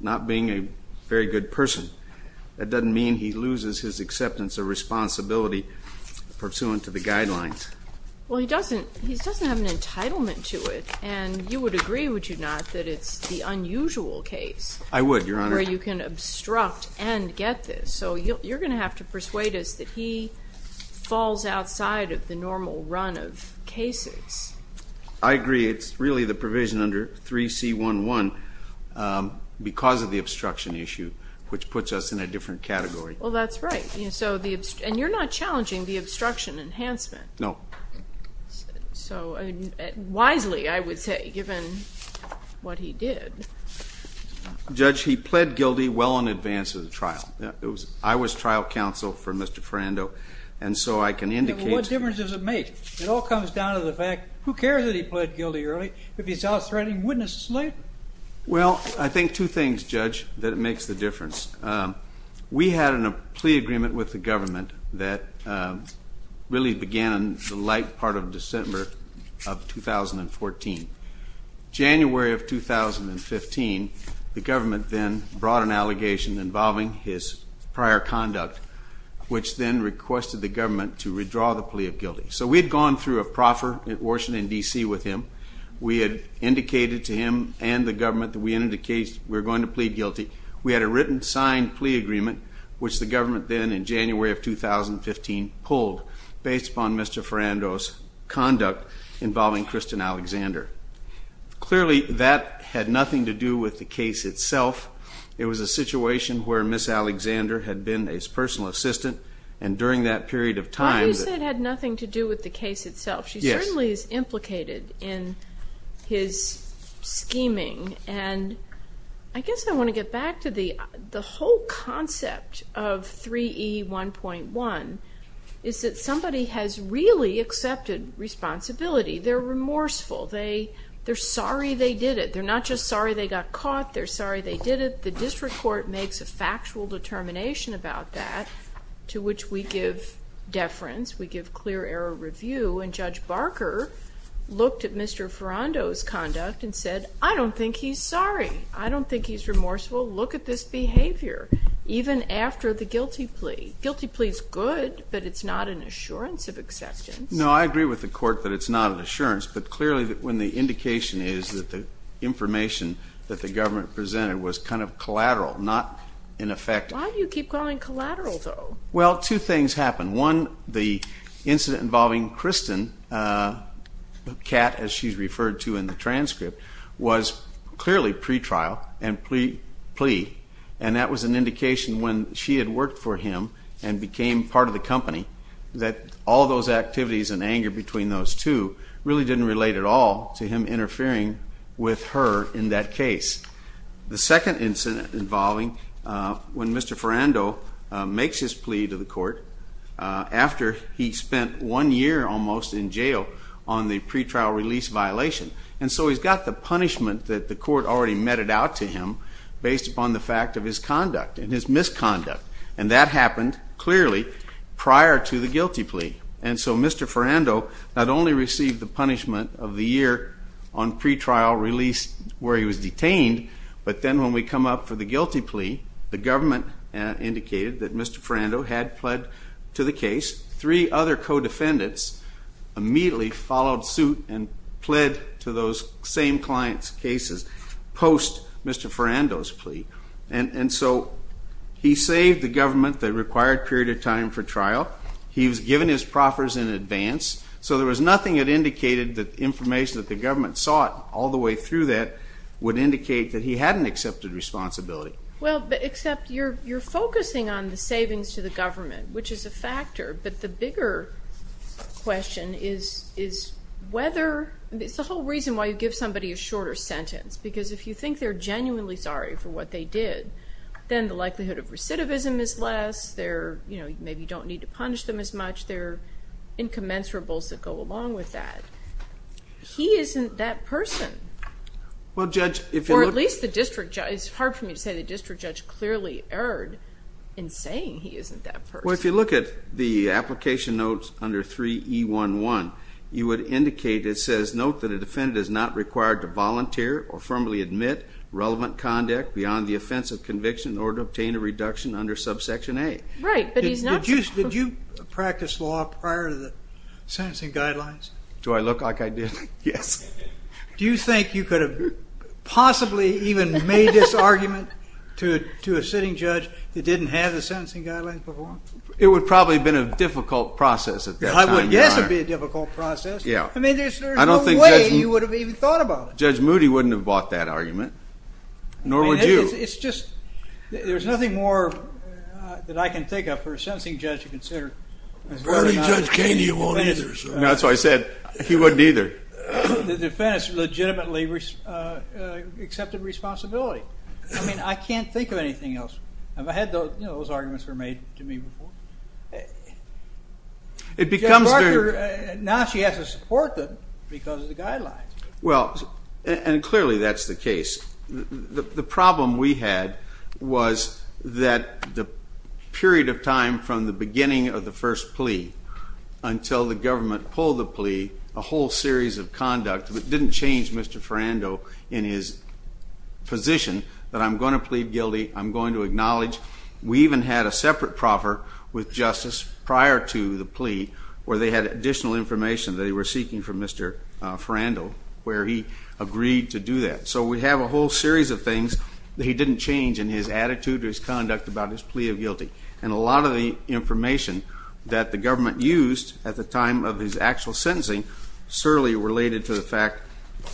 not being a very good person. That doesn't mean he loses his acceptance of responsibility pursuant to the guidelines. Well he doesn't he doesn't have an entitlement to it and you would agree would you not that it's the unusual case. I would your honor. Where you can obstruct and get this so you're gonna have to persuade us that he falls outside of the normal run of cases. I because of the obstruction issue which puts us in a different category. Well that's right you know so the and you're not challenging the obstruction enhancement. No. So wisely I would say given what he did. Judge he pled guilty well in advance of the trial. It was I was trial counsel for Mr. Furando and so I can indicate. What difference does it make it all comes down to the fact who cares that he pled guilty early if he's out threatening witnesses later. Well I think two things judge that makes the difference. We had a plea agreement with the government that really began the light part of December of 2014. January of 2015 the government then brought an allegation involving his prior conduct which then requested the government to redraw the plea of guilty. So we'd gone through a proffer at Washington DC with him. We had indicated to him and the we're going to plead guilty. We had a written signed plea agreement which the government then in January of 2015 pulled based upon Mr. Furando's conduct involving Kristen Alexander. Clearly that had nothing to do with the case itself. It was a situation where Miss Alexander had been his personal assistant and during that period of time. It had nothing to do with the case itself. She certainly is implicated in his scheming and I guess I want to get back to the the whole concept of 3E 1.1 is that somebody has really accepted responsibility. They're remorseful. They they're sorry they did it. They're not just sorry they got caught. They're sorry they did it. The district court makes a factual determination about that to which we give deference. We give clear error review and Judge Barker looked at Mr. Furando's conduct and said I don't think he's sorry. I don't think he's remorseful. Look at this behavior even after the guilty plea. Guilty plea is good but it's not an assurance of acceptance. No I agree with the court that it's not an assurance but clearly that when the indication is that the information that the government presented was kind of collateral not in effect. Why do you keep calling collateral though? Well two things happen. One the incident involving Kristen, the cat as she's referred to in the transcript, was clearly pretrial and plea and that was an indication when she had worked for him and became part of the company that all those activities and anger between those two really didn't relate at all to him interfering with her in that case. The second incident involving when Mr. Furando makes his plea to the court after he spent one year almost in jail on the pretrial release violation and so he's got the punishment that the court already meted out to him based upon the fact of his conduct and his misconduct and that happened clearly prior to the guilty plea and so Mr. Furando not only received the punishment of the year on pretrial release where he was detained but then when we come up for the guilty plea the government indicated that Mr. Furando had pled to the case. Three other co-defendants immediately followed suit and pled to those same clients cases post Mr. Furando's plea and so he saved the government the required period of time for trial. He was given his proffers in advance so there was nothing that indicated that information that the he hadn't accepted responsibility. Well except you're you're focusing on the savings to the government which is a factor but the bigger question is whether it's the whole reason why you give somebody a shorter sentence because if you think they're genuinely sorry for what they did then the likelihood of recidivism is less there you know you maybe don't need to punish them as much they're incommensurables that go along with that. He isn't that person. Well judge or at least the district judge it's hard for me to say the district judge clearly erred in saying he isn't that person. Well if you look at the application notes under 3E11 you would indicate it says note that a defendant is not required to volunteer or firmly admit relevant conduct beyond the offense of conviction in order to obtain a reduction under subsection A. Right but he's not. Did you practice law prior to the sentencing guidelines? Do I look like I Yes. Do you think you could have possibly even made this argument to a sitting judge that didn't have the sentencing guidelines before? It would probably been a difficult process at that time. I would guess it would be a difficult process. Yeah I mean there's no way you would have even thought about it. Judge Moody wouldn't have bought that argument nor would you. It's just there's nothing more that I can think of for a sentencing judge to consider. Verily Judge Keene you won't either. That's why I said he wouldn't either. The defense legitimately accepted responsibility. I mean I can't think of anything else. Have I had those arguments were made to me before? It becomes... Now she has to support them because of the guidelines. Well and clearly that's the case. The problem we had was that the government pulled the plea, a whole series of conduct that didn't change Mr. Ferrando in his position that I'm going to plead guilty, I'm going to acknowledge. We even had a separate proffer with justice prior to the plea where they had additional information that they were seeking from Mr. Ferrando where he agreed to do that. So we have a whole series of things that he didn't change in his attitude or his conduct about his plea of guilty. And a lot of the government used at the time of his actual sentencing certainly related to the fact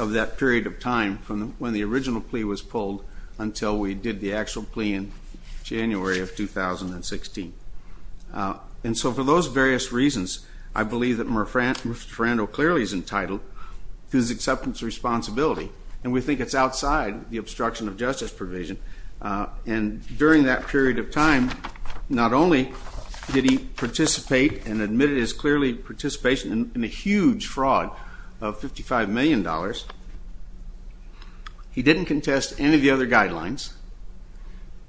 of that period of time from when the original plea was pulled until we did the actual plea in January of 2016. And so for those various reasons I believe that Mr. Ferrando clearly is entitled to his acceptance responsibility and we think it's outside the obstruction of justice provision. And during that period of time not only did he participate and admitted his clearly participation in a huge fraud of $55 million, he didn't contest any of the other guidelines.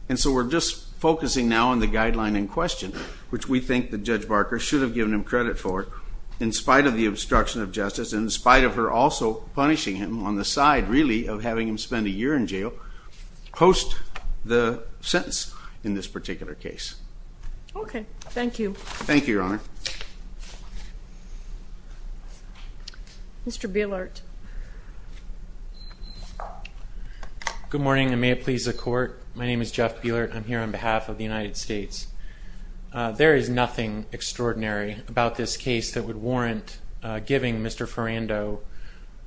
And so we're just focusing now on the guideline in question which we think that Judge Barker should have given him credit for in spite of the obstruction of justice, in spite of her also punishing him on the side really of having him spend a year in jail post the sentence in this particular case. Okay, thank you. Thank you, Your Honor. Mr. Bielert. Good morning and may it please the court. My name is Jeff Bielert. I'm here on behalf of the United States. There is nothing extraordinary about this case that would warrant giving Mr. Ferrando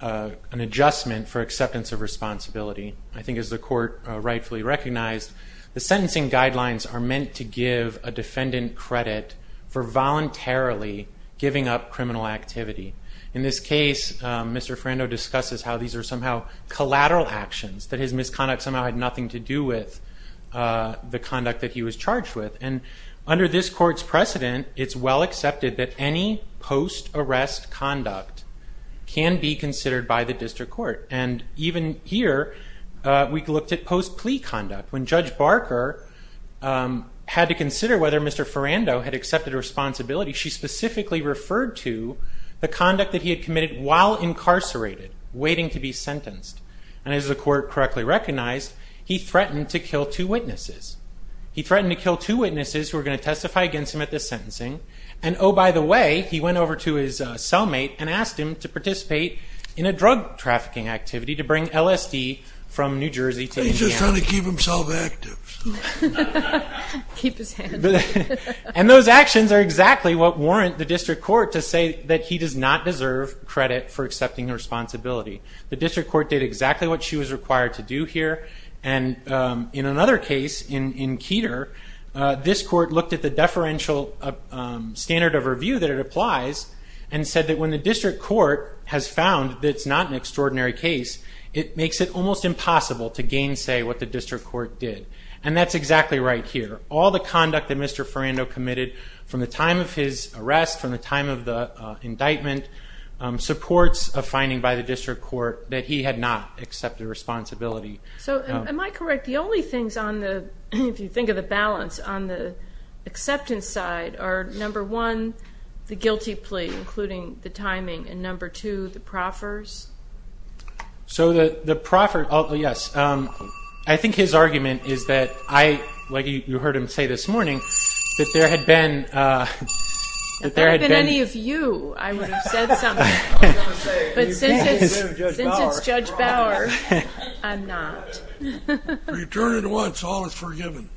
an adjustment for acceptance of responsibility. I think as the court rightfully recognized, the sentencing guidelines are meant to give a defendant credit for voluntarily giving up criminal activity. In this case, Mr. Ferrando discusses how these are somehow collateral actions, that his misconduct somehow had nothing to do with the conduct that he was charged with. And under this court's precedent, it's well accepted that any post-arrest conduct can be considered by the district court. And even here, we looked at post-plea conduct. When Judge Barker had to consider whether Mr. Ferrando had accepted responsibility, she specifically referred to the conduct that he had committed while incarcerated, waiting to be sentenced. And as the court correctly recognized, he threatened to kill two witnesses. He threatened to kill two witnesses to testify against him at this sentencing. And oh, by the way, he went over to his cellmate and asked him to participate in a drug trafficking activity to bring LSD from New Jersey to Indiana. He's just trying to keep himself active. And those actions are exactly what warrant the district court to say that he does not deserve credit for accepting responsibility. The district court did exactly what she was required to do here. And in another case, in Keter, this court looked at the deferential standard of review that it applies and said that when the district court has found that it's not an extraordinary case, it makes it almost impossible to gainsay what the district court did. And that's exactly right here. All the conduct that Mr. Ferrando committed from the time of his arrest, from the time of the indictment, supports a finding by the district court that he had not accepted responsibility. So am I correct, the only things on the, if you think of the balance, on the acceptance side are, number one, the guilty plea, including the timing, and number two, the proffers? So the proffers, yes, I think his argument is that I, like you heard him say this morning, that there had been... If there had been any of you, I would have said something, but since it's Judge Bauer, I'm not. Return it once, all is forgiven.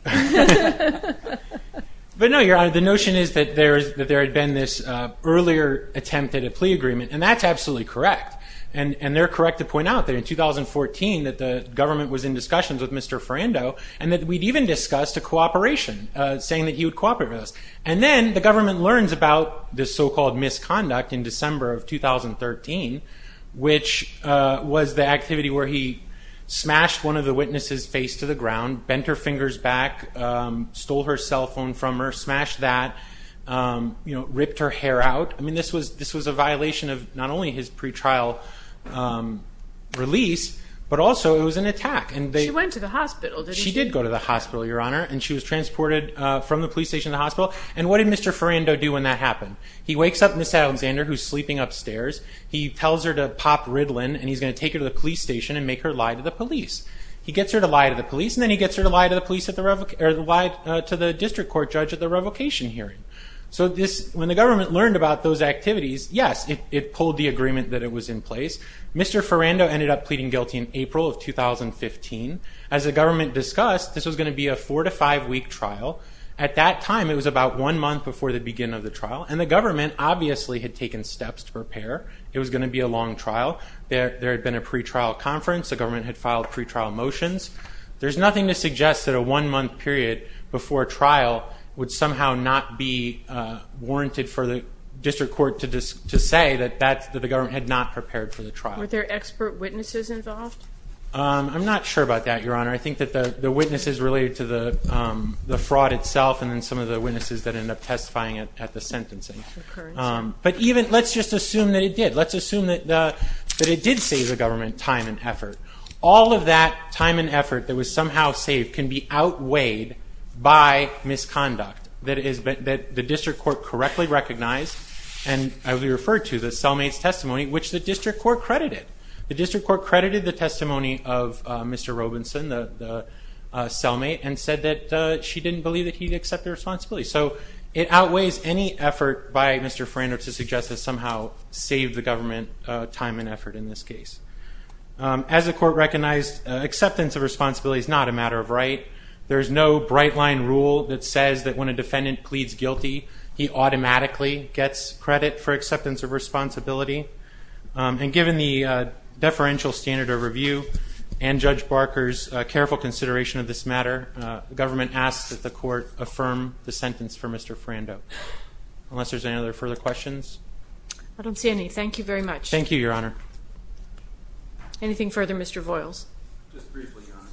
But no, Your Honor, the notion is that there's, that there had been this earlier attempt at a plea agreement, and that's absolutely correct. And, and they're correct to point out that in 2014, that the government was in discussions with Mr. Ferrando, and that we'd even discussed a cooperation, saying that he would cooperate with us. And then the government learns about this so-called misconduct in December of 2013, which was the activity where he smashed one of the witnesses' face to the ground, bent her fingers back, stole her cell phone from her, smashed that, ripped her hair out. I mean, this was, this was a violation of not only his pretrial release, but also it was an attack. And they... She went to the hospital. She did go to the hospital, Your Honor, and she was transported from the police station to the hospital. And what did Mr. Ferrando do when that occurs? He tells her to pop Ritalin, and he's going to take her to the police station and make her lie to the police. He gets her to lie to the police, and then he gets her to lie to the police at the, or lie to the district court judge at the revocation hearing. So this, when the government learned about those activities, yes, it pulled the agreement that it was in place. Mr. Ferrando ended up pleading guilty in April of 2015. As the government discussed, this was going to be a four-to-five-week trial. At that time, it was about one month before the beginning of the trial, and the government obviously had taken steps to prepare. It was going to be a long trial. There had been a pretrial conference. The government had filed pretrial motions. There's nothing to suggest that a one-month period before trial would somehow not be warranted for the district court to say that the government had not prepared for the trial. Were there expert witnesses involved? I'm not sure about that, Your Honor. I think that the witnesses related to the fraud itself, and then some of the witnesses that end up testifying at the sentencing. But even, let's just assume that it did. Let's assume that it did save the government time and effort. All of that time and effort that was somehow saved can be outweighed by misconduct, that the district court correctly recognized, and I would refer to the cellmate's testimony, which the district court credited. The district court credited the testimony of Mr. Robinson, the cellmate, and said that she didn't believe that he'd accept the responsibility. So, it outweighs any effort by Mr. Frander to suggest that somehow saved the government time and effort in this case. As the court recognized, acceptance of responsibility is not a matter of right. There's no bright-line rule that says that when a defendant pleads guilty, he automatically gets credit for acceptance of responsibility. And given the deferential standard of review and Judge Barker's careful consideration of this matter, the government asks that the court affirm the sentence for Mr. Frander. Unless there's any other further questions? I don't see any. Thank you very much. Thank you, Your Honor. Anything further, Mr. Voyles? Just briefly, Your Honor.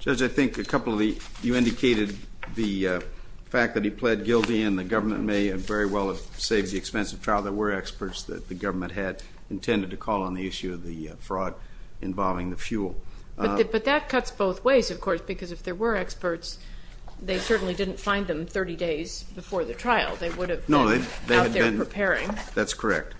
Judge, I think a couple of the, you indicated the fact that he pled guilty and the government may very well have saved the expense of trial. There were experts that the government had intended to call on the issue of the fraud involving the fuel. But that cuts both ways, of course, because if there were experts, they certainly didn't find them 30 days before the trial. They would have been out there preparing. That's correct.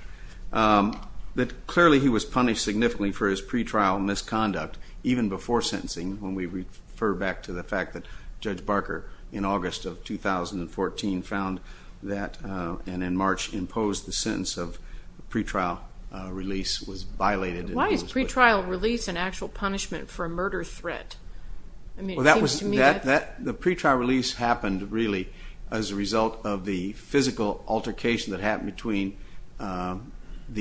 Clearly, he was punished significantly for his pretrial misconduct, even before sentencing, when we refer back to the fact that Judge Barker, in August of 2014, found that, and in March, imposed the sentence of pretrial release was violated. Why is pretrial release an actual punishment for a murder threat? Well, that was, the pretrial release happened, really, as a result of the physical altercation that happened between the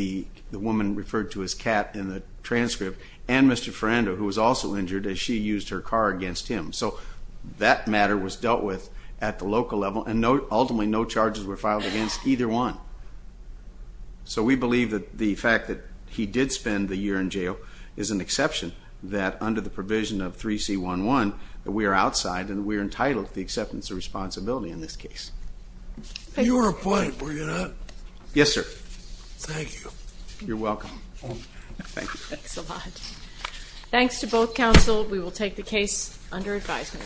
woman referred to as Kat in the transcript and Mr. Frander, who was also injured, as she used her car against him. So that matter was dealt with at the local level, and ultimately, no charges were filed against either one. So we believe that the fact that he did spend the year in jail is an exception, that under the provision of 3C11, that we are outside, and we are entitled to the acceptance of responsibility in this case. You were a plaintiff, were you not? Yes, sir. Thank you. You're welcome. Thanks a lot. Thanks to both counsel. We will take the case under advisement.